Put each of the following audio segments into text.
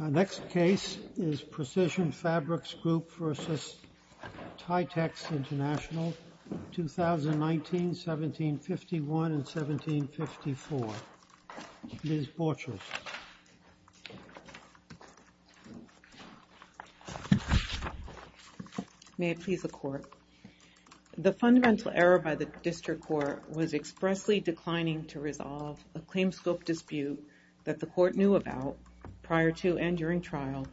Our next case is Precision Fabrics Group v. Tietex International, 2019, 1751 and 1754. Ms. Borchers. The fundamental error by the district court was expressly declining to resolve a claims scope dispute that the court knew about prior to and during trial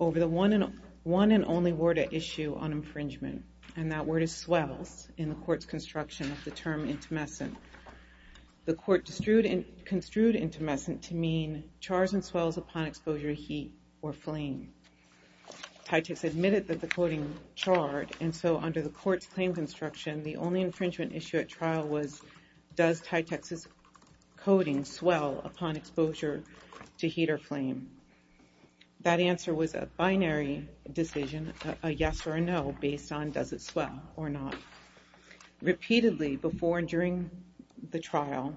over the one and only word at issue on infringement, and that word is swells in the court's construction of the term intumescent. The court construed intumescent to mean chars and swells upon exposure to heat or flame. Tietex admitted that the coding charred, and so under the court's claims instruction, the only infringement issue at trial was does Tietex's coding swell upon exposure to heat or flame. That answer was a binary decision, a yes or a no, based on does it swell or not. Repeatedly before and during the trial,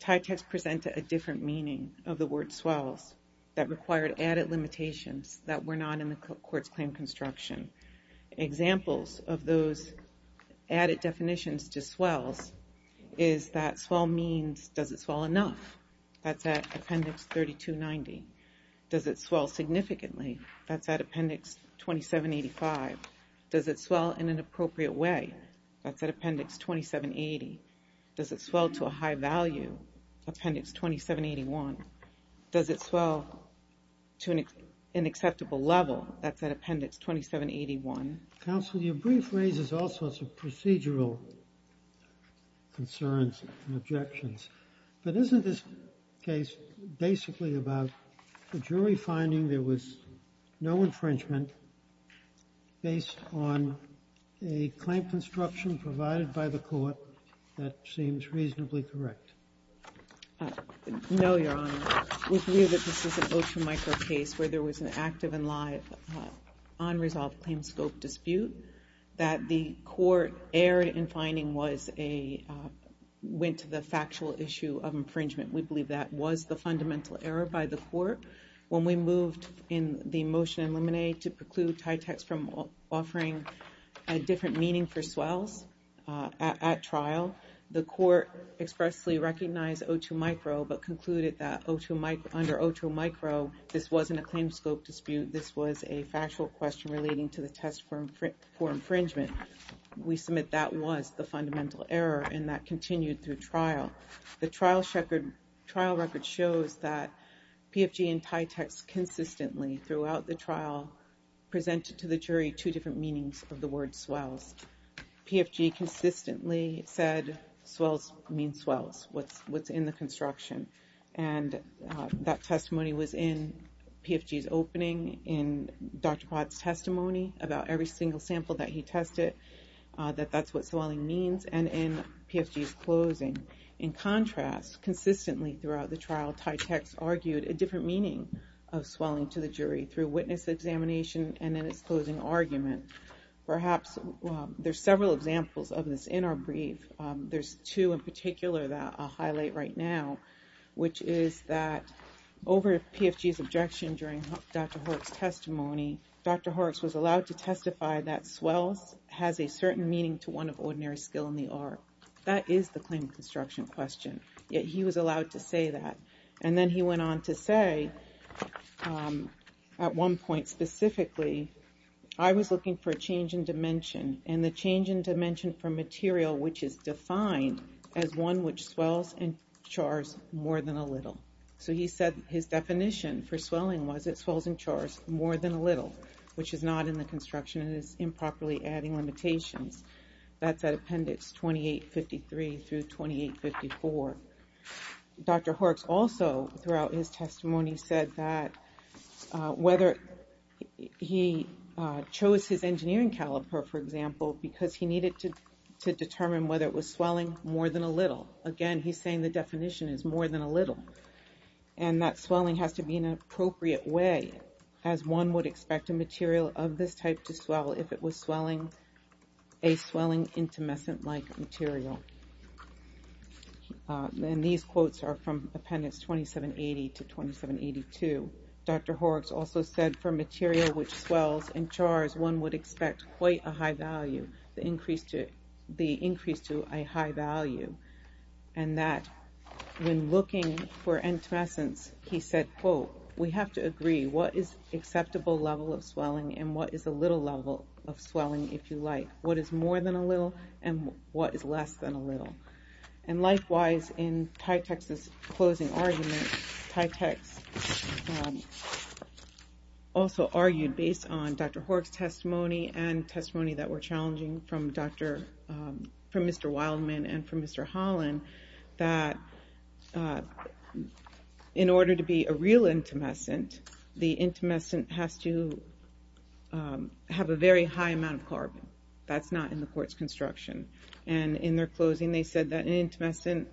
Tietex presented a different meaning of the word swells that required added limitations that were not in the court's claim construction. Examples of those added definitions to swells is that swell means does it swell enough? That's at appendix 3290. Does it swell significantly? That's at appendix 2785. Does it swell in an appropriate way? That's at appendix 2780. Does it swell to a high value? Appendix 2781. Does it swell to an unacceptable level? That's at appendix 2781. Counsel, your brief raises all sorts of procedural concerns and objections. But isn't this case basically about the jury finding there was no infringement based on a claim construction provided by the court that seems reasonably correct? No, Your Honor. We believe that this is an O2 micro case where there was an active and live unresolved claim scope dispute that the court erred in finding was a, went to the factual issue of infringement. We believe that was the fundamental error by the court. When we moved in the motion and lemonade to preclude TYTEX from offering a different meaning for swells at trial, the court expressly recognized O2 micro but concluded that under O2 micro, this wasn't a claim scope dispute. This was a factual question relating to the test for infringement. We submit that was the fundamental error and that continued through trial. The trial record shows that PFG and TYTEX consistently throughout the trial presented to the jury two different meanings of the word swells. PFG consistently said swells mean swells, what's in the construction. And that testimony was in PFG's opening, in Dr. Pratt's testimony about every single sample that he tested, that that's what swelling means, and in PFG's closing. In contrast, consistently throughout the trial, TYTEX argued a different meaning of swelling to the jury through witness examination and in its closing argument. Perhaps there's several examples of this in our brief. There's two in particular that I'll highlight right now, which is that over PFG's objection during Dr. Horak's testimony, Dr. Horak was allowed to testify that swells has a certain meaning to one of ordinary skill in the art. That is the claim of construction question, yet he was allowed to say that. And then he went on to say, at one point specifically, I was looking for a change in dimension, and the change in dimension for material which is defined as one which swells and chars more than a little. So he said his definition for swelling was it swells and chars more than a little, which is not in the construction and is improperly adding limitations. That's at appendix 2853 through 2854. Dr. Horak also, throughout his testimony, said that whether he chose his engineering caliper, for example, because he needed to determine whether it was swelling more than a little. Again, he's saying the definition is more than a little. And that swelling has to be in an appropriate way, as one would expect a material of this type to swell if it was swelling, a swelling intumescent-like material. And these quotes are from appendix 2780 to 2782. Dr. Horak also said for material which swells and chars, one would expect quite a high value, the increase to a high value. And that when looking for intumescence, he said, quote, we have to agree what is acceptable level of swelling and what is a little level of swelling, if you like. What is more than a little, and what is less than a little. And likewise, in Tytex's closing argument, Tytex also argued, based on Dr. Horak's testimony and testimony that were challenging from Mr. Wildman and from Mr. Holland, that in order to be a real intumescent, the intumescent has to have a very high amount of carbon. That's not in the court's construction. And in their closing, they said that an intumescent,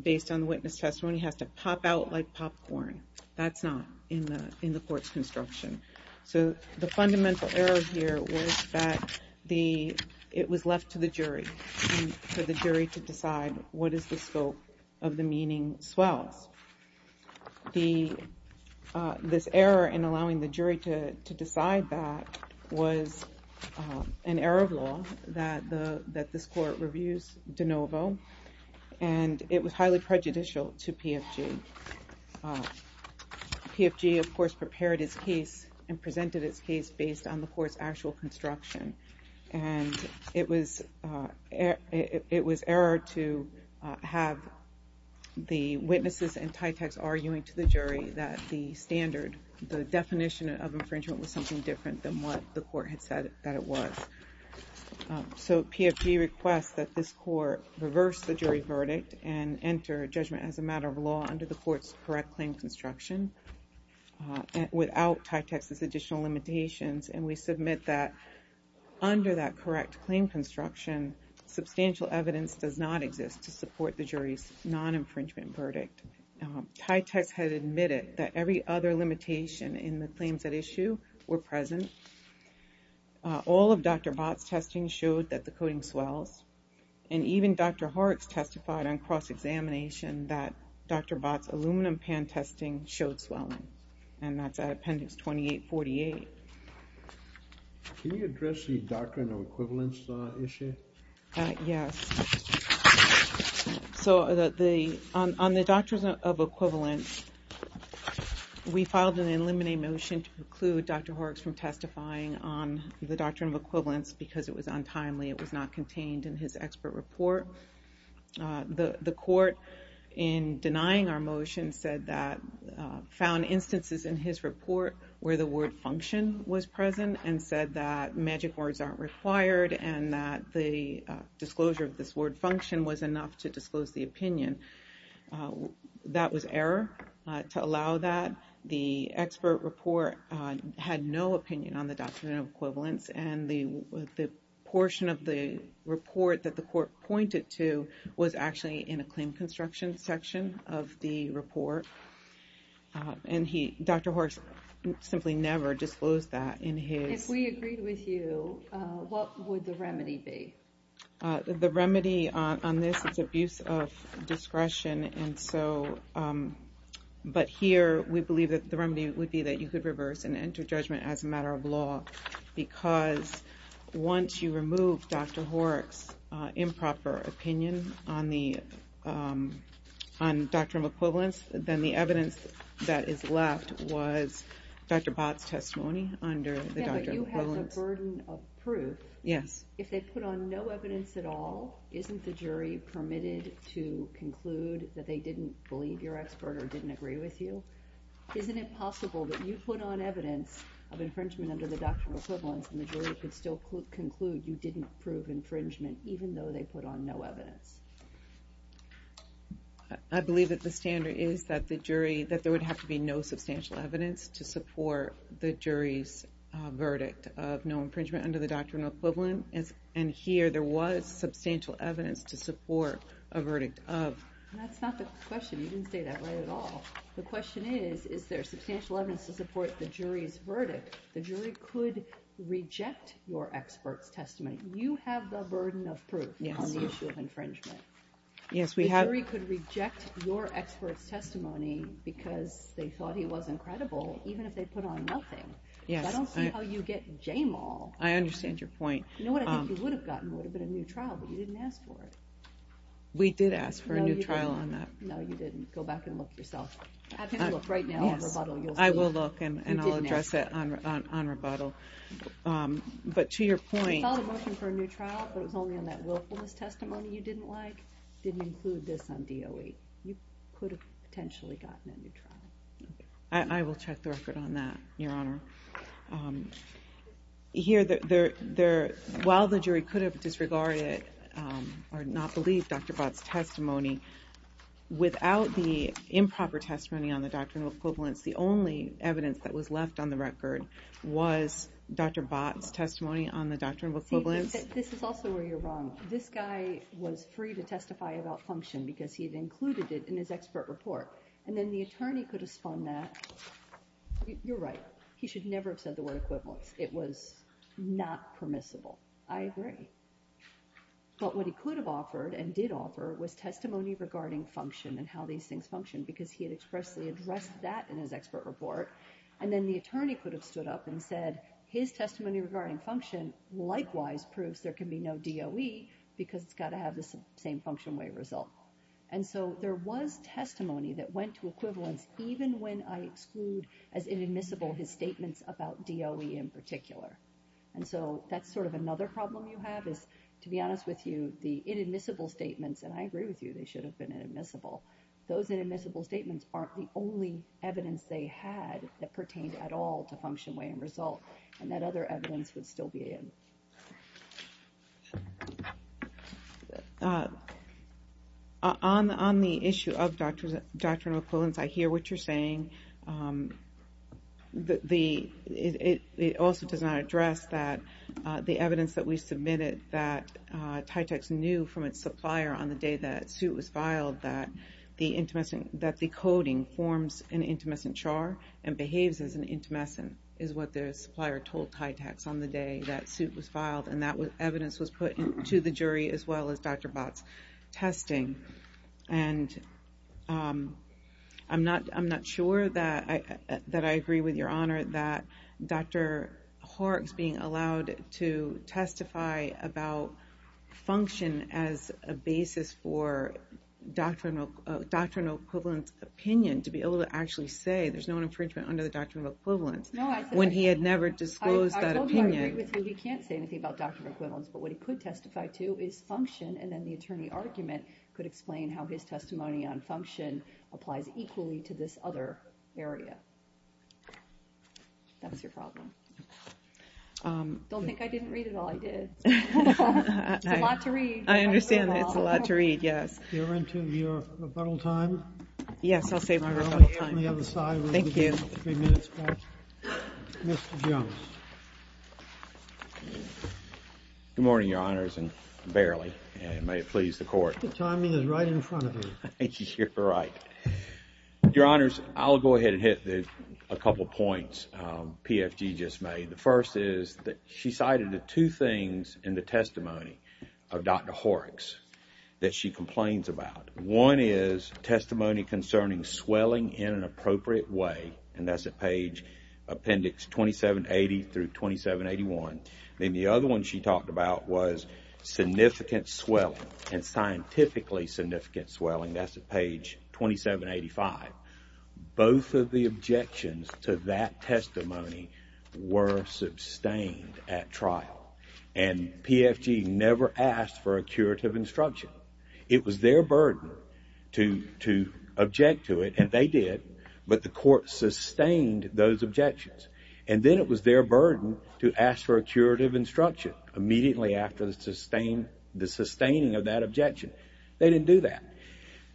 based on the witness testimony, has to pop out like popcorn. That's not in the court's construction. So the fundamental error here was that it was left to the jury, for the jury to decide what is the scope of the meaning swells. This error in allowing the jury to decide that was an error of law that this court reviews de novo. And it was highly prejudicial to PFG. PFG, of course, prepared his case and presented his case based on the court's actual construction. And it was error to have the witnesses in Tytex arguing to the jury that the standard, the definition of infringement was something different than what the court had said that it was. So PFG requests that this court reverse the jury verdict and enter judgment as a matter of law under the court's correct claim construction without Tytex's additional limitations. And we submit that under that correct claim construction, substantial evidence does not exist to support the jury's non-infringement verdict. Tytex had admitted that every other limitation in the claims at issue were present. All of Dr. Bott's testing showed that the coating swells. And even Dr. Horrocks testified on cross-examination that Dr. Bott's aluminum pan testing showed swelling. And that's at appendix 2848. Can you address the doctrine of equivalence issue? Yes. So on the doctrine of equivalence, we filed an eliminate motion to preclude Dr. Horrocks from testifying on the doctrine of equivalence because it was untimely. It was not contained in his expert report. The court, in denying our motion, said that found instances in his report where the word function was present and said that magic words aren't required and that the disclosure of this word function was enough to disclose the opinion. That was error. To allow that, the expert report had no opinion on the doctrine of equivalence. And the portion of the report that the court pointed to was actually in a claim construction section of the report. And Dr. Horrocks simply never disclosed that in his... If we agreed with you, what would the remedy be? The remedy on this is abuse of discretion. But here, we believe that the remedy would be that you could reverse and enter judgment as a matter of law. Because once you remove Dr. Horrocks' improper opinion on the doctrine of equivalence, then the evidence that is left was Dr. Bott's testimony under the doctrine of equivalence. It's a burden of proof. Yes. If they put on no evidence at all, isn't the jury permitted to conclude that they didn't believe your expert or didn't agree with you? Isn't it possible that you put on evidence of infringement under the doctrine of equivalence and the jury could still conclude you didn't prove infringement even though they put on no evidence? I believe that the standard is that there would have to be no substantial evidence to support the jury's verdict of no infringement under the doctrine of equivalence. And here, there was substantial evidence to support a verdict of... That's not the question. You didn't say that right at all. The question is, is there substantial evidence to support the jury's verdict? The jury could reject your expert's testimony. You have the burden of proof on the issue of infringement. Yes, we have. The jury could reject your expert's testimony because they thought he wasn't credible even if they put on nothing. Yes. I don't see how you get J-mal. I understand your point. You know what I think you would have gotten would have been a new trial, but you didn't ask for it. We did ask for a new trial on that. No, you didn't. Go back and look yourself. Have him look right now on rebuttal. I will look and I'll address that on rebuttal. But to your point... You saw the motion for a new trial, but it was only on that willfulness testimony you didn't like. It didn't include this on DOE. You could have potentially gotten a new trial. I will check the record on that, Your Honor. Here, while the jury could have disregarded or not believed Dr. Bott's testimony, without the improper testimony on the doctrine of equivalence, the only evidence that was left on the record was Dr. Bott's testimony on the doctrine of equivalence. This is also where you're wrong. This guy was free to testify about function because he had included it in his expert report. And then the attorney could have spun that. You're right. He should never have said the word equivalence. It was not permissible. I agree. But what he could have offered and did offer was testimony regarding function and how these things function because he had expressly addressed that in his expert report. And then the attorney could have stood up and said, his testimony regarding function likewise proves there can be no DOE because it's got to have the same function way result. And so there was testimony that went to equivalence, even when I exclude as inadmissible his statements about DOE in particular. And so that's sort of another problem you have is, to be honest with you, the inadmissible statements, and I agree with you, they should have been inadmissible. Those inadmissible statements aren't the only evidence they had that pertained at all to function way and result and that other evidence would still be in. On the issue of doctrinal equivalence, I hear what you're saying. It also does not address that the evidence that we submitted, that TYTAX knew from its supplier on the day that suit was filed that the coding forms an intumescent char and behaves as an intumescent is what the supplier told TYTAX on the day that suit was filed and that evidence was put to the jury as well as Dr. Bott's testing. And I'm not sure that I agree with your honor that Dr. Horak's being allowed to testify about function as a basis for doctrinal equivalence opinion to be able to actually say there's no infringement under the doctrinal equivalence when he had never disclosed that opinion. I totally agree with you. He can't say anything about doctrinal equivalence, but what he could testify to is function and then the attorney argument could explain how his testimony on function applies equally to this other area. That's your problem. Don't think I didn't read it all. I did. It's a lot to read. I understand that it's a lot to read, yes. You're into your rebuttal time? Yes, I'll save my rebuttal time. Thank you. Good morning, your honors, and barely. And may it please the court. The timing is right in front of you. You're right. Your honors, I'll go ahead and hit a couple points PFG just made. The first is that she cited the two things in the testimony of Dr. Horak's that she complains about. One is testimony concerning swelling in an appropriate way, and that's at page appendix 2780 through 2781. And the other one she talked about was significant swelling and scientifically significant swelling. That's at page 2785. Both of the objections to that testimony were sustained at trial. And PFG never asked for a curative instruction. It was their burden to object to it, and they did, but the court sustained those objections. And then it was their burden to ask for a curative instruction immediately after the sustaining of that objection. They didn't do that.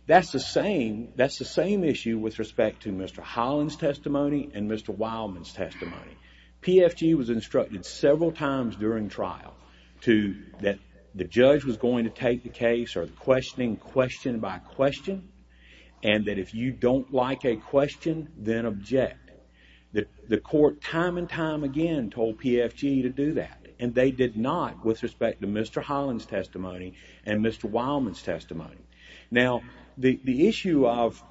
That's the same issue with respect to Mr. Holland's testimony and Mr. Wildman's testimony. PFG was instructed several times during trial that the judge was going to take the case or the questioning question by question, and that if you don't like a question, then object. The court time and time again told PFG to do that, and they did not with respect to Mr. Holland's testimony and Mr. Wildman's testimony. Now, the issue of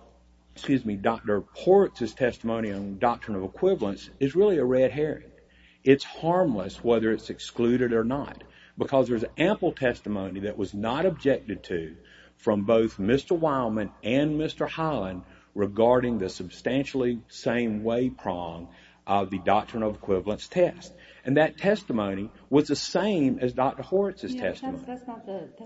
Dr. Horwitz's testimony on doctrine of equivalence is really a red herring. It's harmless whether it's excluded or not, because there's ample testimony that was not objected to from both Mr. Wildman and Mr. Holland regarding the substantially same way prong of the doctrine of equivalence test, and that testimony was the same as Dr. Horwitz's testimony. That's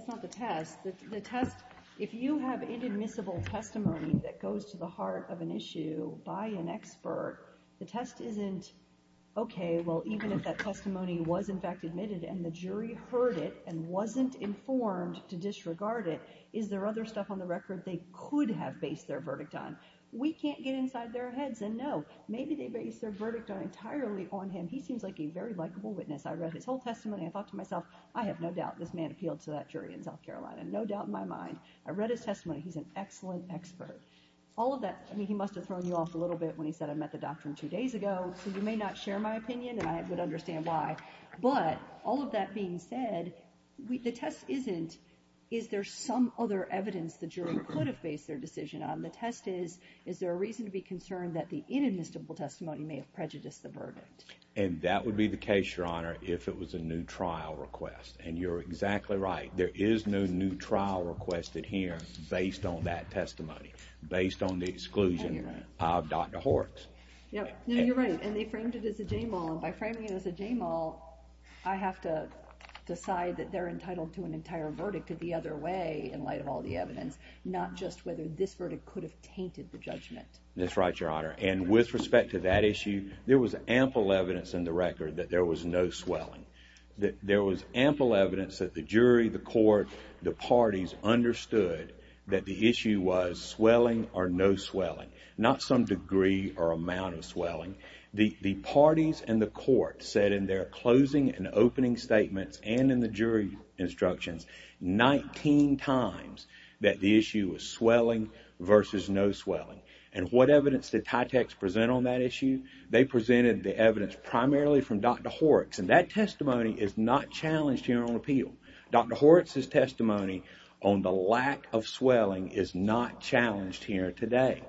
not the test. The test, if you have inadmissible testimony that goes to the heart of an issue by an expert, the test isn't, okay, well, even if that testimony was in fact admitted and the jury heard it and wasn't informed to disregard it, is there other stuff on the record they could have based their verdict on? We can't get inside their heads and know. Maybe they based their verdict entirely on him. He seems like a very likable witness. I read his whole testimony. I thought to myself, I have no doubt this man appealed to that jury in South Carolina, no doubt in my mind. I read his testimony. He's an excellent expert. All of that, I mean, he must have thrown you off a little bit when he said, I met the doctrine two days ago, so you may not share my opinion and I would understand why. But all of that being said, the test isn't, is there some other evidence the jury could have based their decision on? The test is, is there a reason to be concerned that the inadmissible testimony may have prejudiced the verdict? And that would be the case, Your Honor, if it was a new trial request. And you're exactly right. There is no new trial requested here based on that testimony, based on the exclusion of Dr. Horrocks. Yep. No, you're right. And they framed it as a j-mal. By framing it as a j-mal, I have to decide that they're entitled to an entire verdict at the other way in light of all the evidence, not just whether this verdict could have tainted the judgment. That's right, Your Honor. And with respect to that issue, there was ample evidence in the record that there was no swelling, that there was ample evidence that the jury, the court, the parties understood that the issue was swelling or no swelling, not some degree or amount of swelling. The parties and the court said in their closing and opening statements and in the jury instructions 19 times that the issue was swelling versus no swelling. And what evidence did TYTX present on that issue? They presented the evidence primarily from Dr. Horrocks. And that testimony is not challenged here on appeal. Dr. Horrocks' testimony on the lack of swelling is not challenged here today.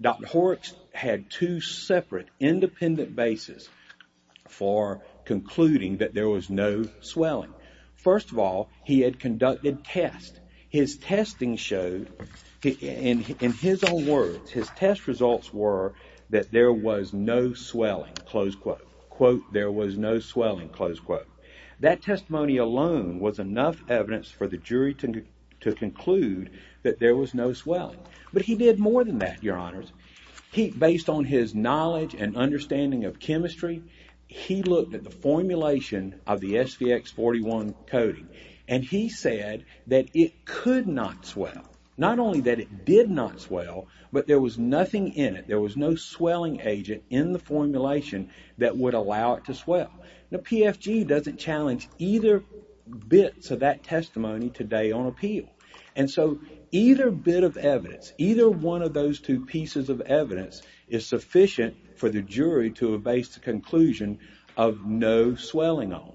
Dr. Horrocks had two separate independent bases for concluding that there was no swelling. First of all, he had conducted tests. His testing showed, in his own words, his test results were that there was no swelling, close quote. Quote, there was no swelling, close quote. That testimony alone was enough evidence for the jury to conclude that there was no swelling. But he did more than that, Your Honors. Based on his knowledge and understanding of chemistry, he looked at the formulation of the SVX-41 coating. And he said that it could not swell. Not only that it did not swell, but there was nothing in it. There was no swelling agent in the formulation that would allow it to swell. Now, PFG doesn't challenge either bits of that testimony today on appeal. And so, either bit of evidence, either one of those two pieces of evidence is sufficient for the jury to base the conclusion of no swelling on.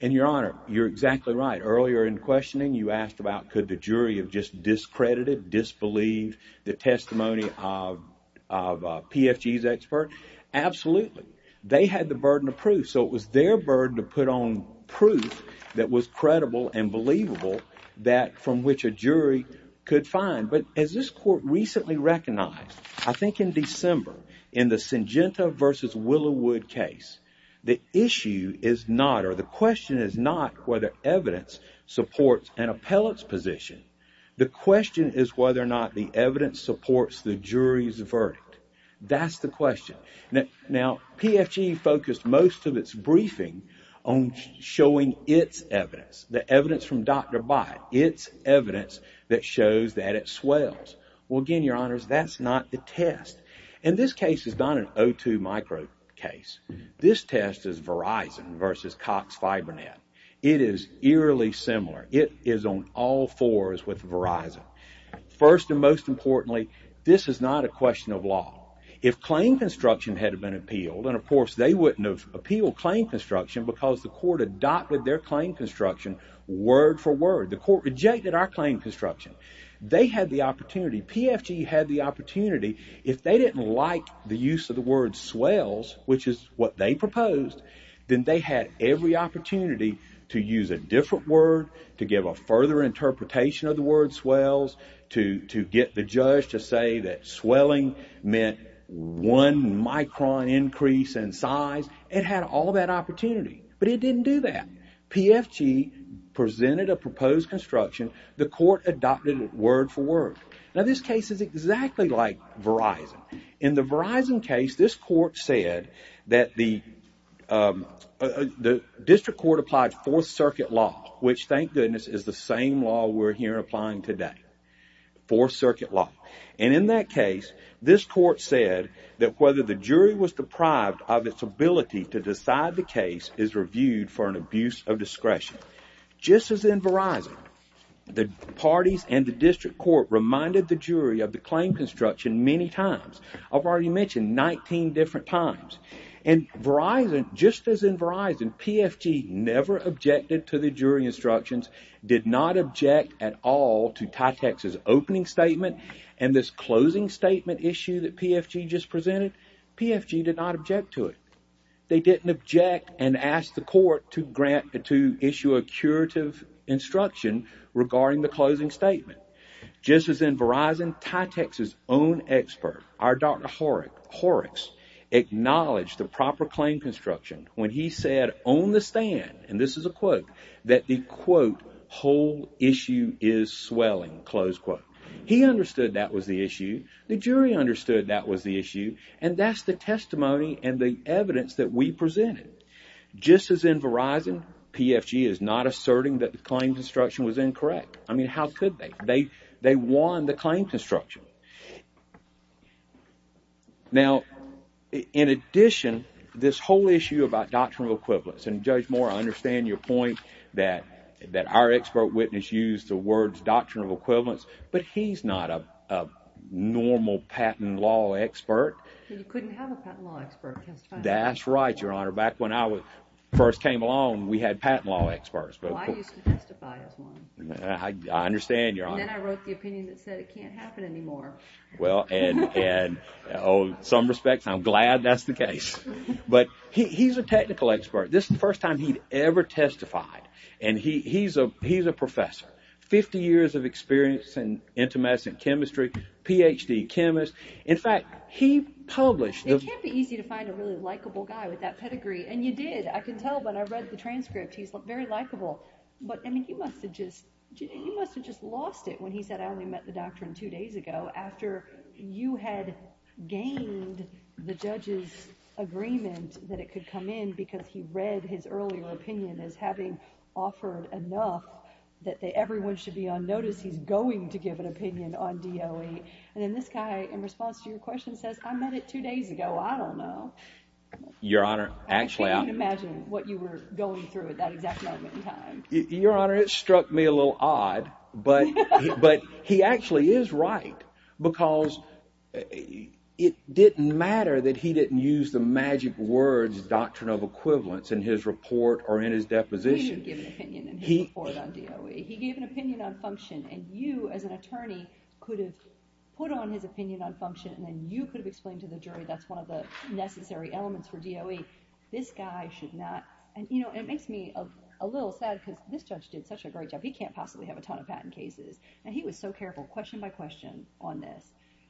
And Your Honor, you're exactly right. Earlier in questioning, you asked about could the jury have just discredited, disbelieved the testimony of PFG's expert. Absolutely. They had the burden of proof, so it was their burden to put on proof that was credible and believable that from which a jury could find. But as this court recently recognized, I think in December, in the Syngenta versus Willowwood case, the issue is not or the question is not whether evidence supports an appellate's position. The question is whether or not the evidence supports the jury's verdict. That's the question. Now, PFG focused most of its briefing on showing its evidence, the evidence from Dr. Bytt, its evidence that shows that it swells. Well, again, Your Honors, that's not the test. And this case is not an O2 micro case. This test is Verizon versus Cox FiberNet. It is eerily similar. It is on all fours with Verizon. First and most importantly, this is not a question of law. If claim construction had been appealed, and of course, they wouldn't have appealed claim construction because the court adopted their claim construction word for word. The court rejected our claim construction. They had the opportunity. And PFG had the opportunity. If they didn't like the use of the word swells, which is what they proposed, then they had every opportunity to use a different word, to give a further interpretation of the word swells, to get the judge to say that swelling meant one micron increase in size. It had all that opportunity. But it didn't do that. PFG presented a proposed construction. The court adopted it word for word. Now, this case is exactly like Verizon. In the Verizon case, this court said that the district court applied Fourth Circuit law, which, thank goodness, is the same law we're here applying today, Fourth Circuit law. And in that case, this court said that whether the jury was deprived of its ability to decide the case is reviewed for an abuse of discretion. Just as in Verizon, the parties and the district court reminded the jury of the claim construction many times. I've already mentioned 19 different times. And Verizon, just as in Verizon, PFG never objected to the jury instructions, did not object at all to Tytex's opening statement and this closing statement issue that PFG just presented. PFG did not object to it. They didn't object and ask the court to issue a curative instruction regarding the closing statement. Just as in Verizon, Tytex's own expert, our Dr. Horrocks, acknowledged the proper claim construction when he said on the stand, and this is a quote, that the, quote, whole issue is swelling, close quote. He understood that was the issue. The jury understood that was the issue. And that's the testimony and the evidence that we presented. Just as in Verizon, PFG is not asserting that the claim construction was incorrect. I mean, how could they? They won the claim construction. Now, in addition, this whole issue about doctrinal equivalence, and Judge Moore, I understand your point that our expert witness used the words doctrinal equivalence, but he's not a normal patent law expert. He couldn't have a patent law expert testify. That's right, Your Honor. Back when I first came along, we had patent law experts. Well, I used to testify as one. I understand, Your Honor. And then I wrote the opinion that said it can't happen anymore. Well, in some respects, I'm glad that's the case. But he's a technical expert. This is the first time he ever testified. And he's a professor. Fifty years of experience in intermedicine chemistry, Ph.D. chemist. In fact, he published. It can't be easy to find a really likable guy with that pedigree, and you did. I can tell when I read the transcript. He's very likable. But, I mean, you must have just lost it when he said, I only met the doctor two days ago after you had gained the judge's agreement that it could come in because he read his earlier opinion as having offered enough that everyone should be on notice. He's going to give an opinion on DOE. And then this guy, in response to your question, says, I met it two days ago. I don't know. Your Honor, actually. I can't even imagine what you were going through at that exact moment in time. Your Honor, it struck me a little odd. But he actually is right because it didn't matter that he didn't use the magic words, doctrine of equivalence, in his report or in his deposition. He didn't give an opinion in his report on DOE. He gave an opinion on function. And you, as an attorney, could have put on his opinion on function, and then you could have explained to the jury that's one of the necessary elements for DOE. This guy should not. And, you know, it makes me a little sad because this judge did such a great job. He can't possibly have a ton of patent cases. And he was so careful, question by question, on this.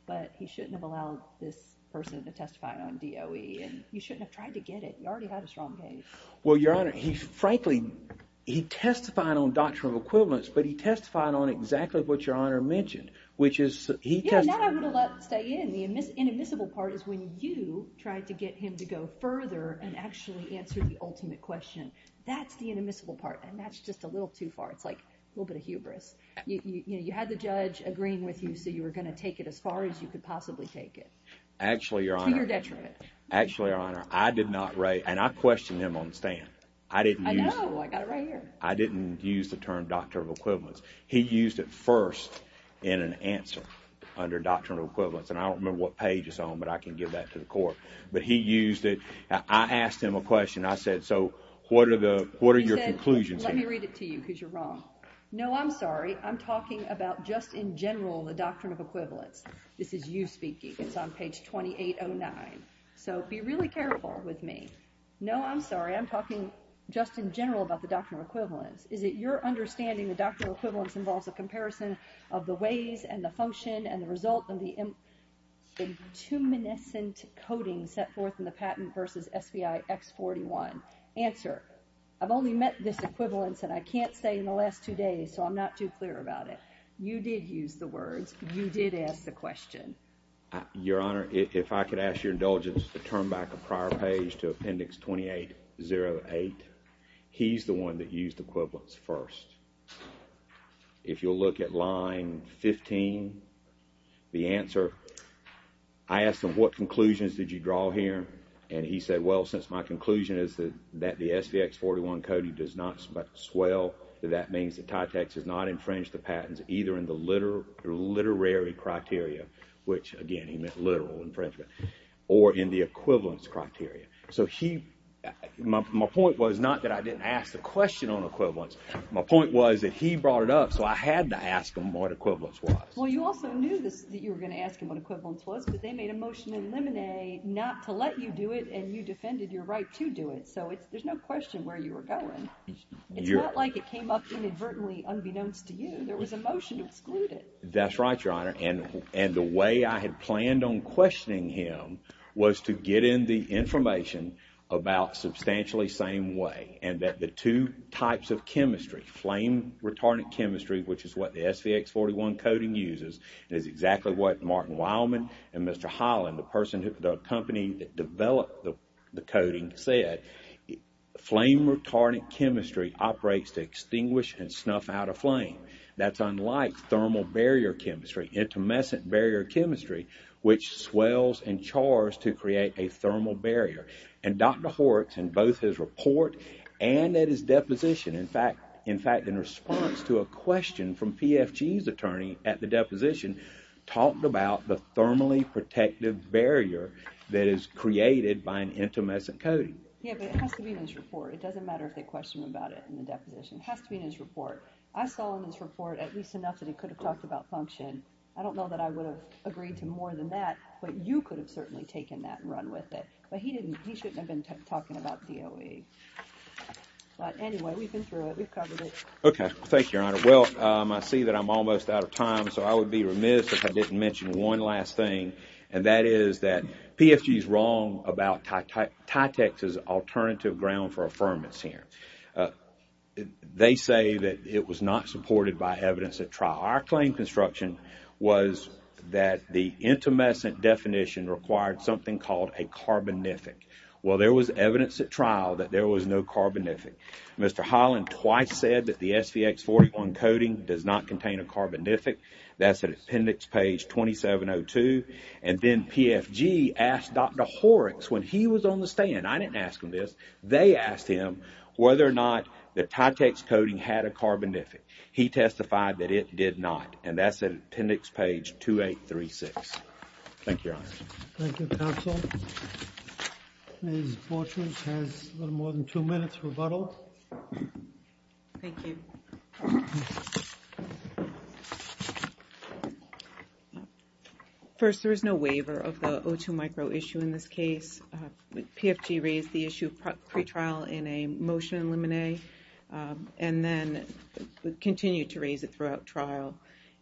But he shouldn't have allowed this person to testify on DOE. And you shouldn't have tried to get it. You already had a strong case. Well, Your Honor, frankly, he testified on doctrine of equivalence, but he testified on exactly what Your Honor mentioned, which is he testified. Yeah, and that I would have let stay in. The inadmissible part is when you tried to get him to go further and actually answer the ultimate question. That's the inadmissible part, and that's just a little too far. It's like a little bit of hubris. You know, you had the judge agreeing with you, so you were going to take it as far as you could possibly take it. Actually, Your Honor. To your detriment. Actually, Your Honor, I did not write, and I questioned him on the stand. I didn't use it. I know. I got it right here. I didn't use the term doctrine of equivalence. He used it first in an answer under doctrine of equivalence, and I don't remember what page it's on, but I can give that to the court. But he used it. I asked him a question. I said, so what are your conclusions here? Let me read it to you because you're wrong. No, I'm sorry. I'm talking about just in general the doctrine of equivalence. This is you speaking. It's on page 2809. So be really careful with me. No, I'm sorry. I'm talking just in general about the doctrine of equivalence. Is it your understanding the doctrine of equivalence involves a comparison of the ways and the function and the result and the intuminescent coding set forth in the patent versus SBI X41? Answer. I've only met this equivalence, and I can't say in the last two days, so I'm not too clear about it. You did use the words. You did ask the question. Your Honor, if I could ask your indulgence to turn back a prior page to appendix 2808. He's the one that used equivalence first. If you'll look at line 15, the answer, I asked him what conclusions did you draw here, and he said, well, since my conclusion is that the SBX41 coding does not swell, that that means that TYTAX has not infringed the patents either in the literary criteria, which, again, he meant literal infringement, or in the equivalence criteria. So my point was not that I didn't ask the question on equivalence. My point was that he brought it up, so I had to ask him what equivalence was. Well, you also knew that you were going to ask him what equivalence was, but they made a motion in Lemonade not to let you do it, and you defended your right to do it. So there's no question where you were going. It's not like it came up inadvertently unbeknownst to you. There was a motion excluded. That's right, Your Honor, and the way I had planned on questioning him was to get in the information about substantially same way and that the two types of chemistry, flame-retardant chemistry, which is what the SBX41 coding uses, is exactly what Martin Wildman and Mr. Holland, the company that developed the coding, said. Flame-retardant chemistry operates to extinguish and snuff out a flame. That's unlike thermal barrier chemistry, intermesent barrier chemistry, which swells and chars to create a thermal barrier. And Dr. Horrocks, in both his report and at his deposition, in fact, in response to a question from PFG's attorney at the deposition, talked about the thermally protective barrier that is created by an intermesent coding. Yeah, but it has to be in his report. It doesn't matter if they question him about it in the deposition. It has to be in his report. I saw in his report at least enough that he could have talked about function. I don't know that I would have agreed to more than that, but you could have certainly taken that and run with it. But he shouldn't have been talking about DOE. But anyway, we've been through it. We've covered it. Okay. Thank you, Your Honor. Well, I see that I'm almost out of time, so I would be remiss if I didn't mention one last thing, and that is that PFG's wrong about TYTEX's alternative ground for affirmance here. They say that it was not supported by evidence at trial. Our claim construction was that the intermesent definition required something called a carbonific. Well, there was evidence at trial that there was no carbonific. Mr. Holland twice said that the SVX-41 coding does not contain a carbonific. That's at appendix page 2702. And then PFG asked Dr. Horrocks when he was on the stand. I didn't ask him this. They asked him whether or not the TYTEX coding had a carbonific. He testified that it did not, and that's at appendix page 2836. Thank you, Your Honor. Thank you, counsel. Ms. Borchardt has a little more than two minutes rebuttal. Thank you. First, there is no waiver of the O2 micro issue in this case. PFG raised the issue of pretrial in a motion in limine, and then continued to raise it throughout trial.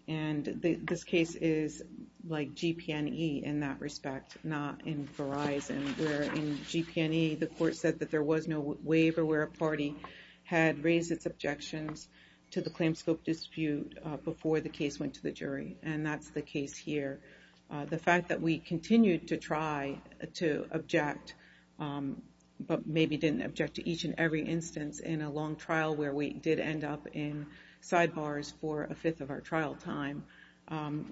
And this case is like GP&E in that respect, not in Verizon, where in GP&E the court said that there was no waiver where a party had raised its objections to the claim scope dispute before the case went to the jury. And that's the case here. The fact that we continued to try to object, but maybe didn't object to each and every instance in a long trial where we did end up in sidebars for a fifth of our trial time,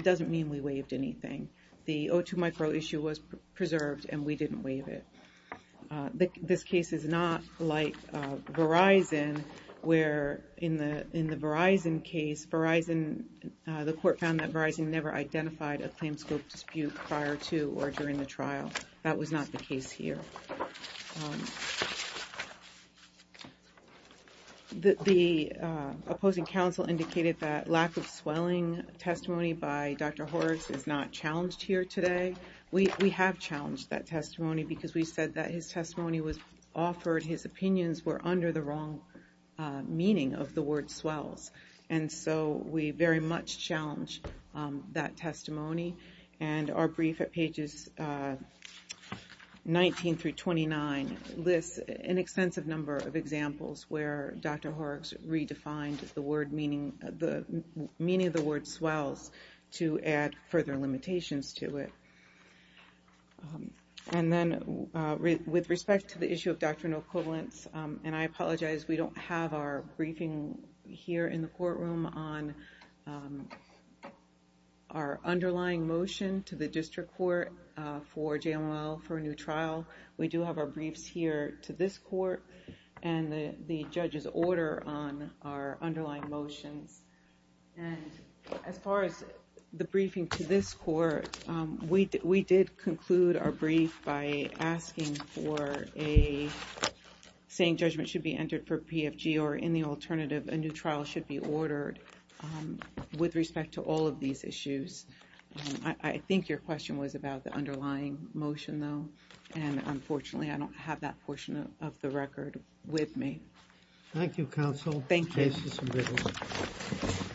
doesn't mean we waived anything. The O2 micro issue was preserved, and we didn't waive it. This case is not like Verizon, where in the Verizon case, Verizon, the court found that Verizon never identified a claim scope dispute prior to or during the trial. That was not the case here. The opposing counsel indicated that lack of swelling testimony by Dr. Horvitz is not challenged here today. We have challenged that testimony because we said that his testimony was offered, his opinions were under the wrong meaning of the word swells. And so we very much challenge that testimony. And our brief at pages 19 through 29 lists an extensive number of examples where Dr. Horvitz redefined the meaning of the word swells to add further limitations to it. And then with respect to the issue of doctrinal equivalence, and I apologize, we don't have our briefing here in the courtroom on our underlying motion to the district court for JML for a new trial. We do have our briefs here to this court, and the judges order on our underlying motions. And as far as the briefing to this court, we did conclude our brief by asking for a saying judgment should be entered for PFG or in the alternative a new trial should be ordered with respect to all of these issues. I think your question was about the underlying motion though, and unfortunately I don't have that portion of the record with me. Thank you counsel. Thank you. Case is admitted.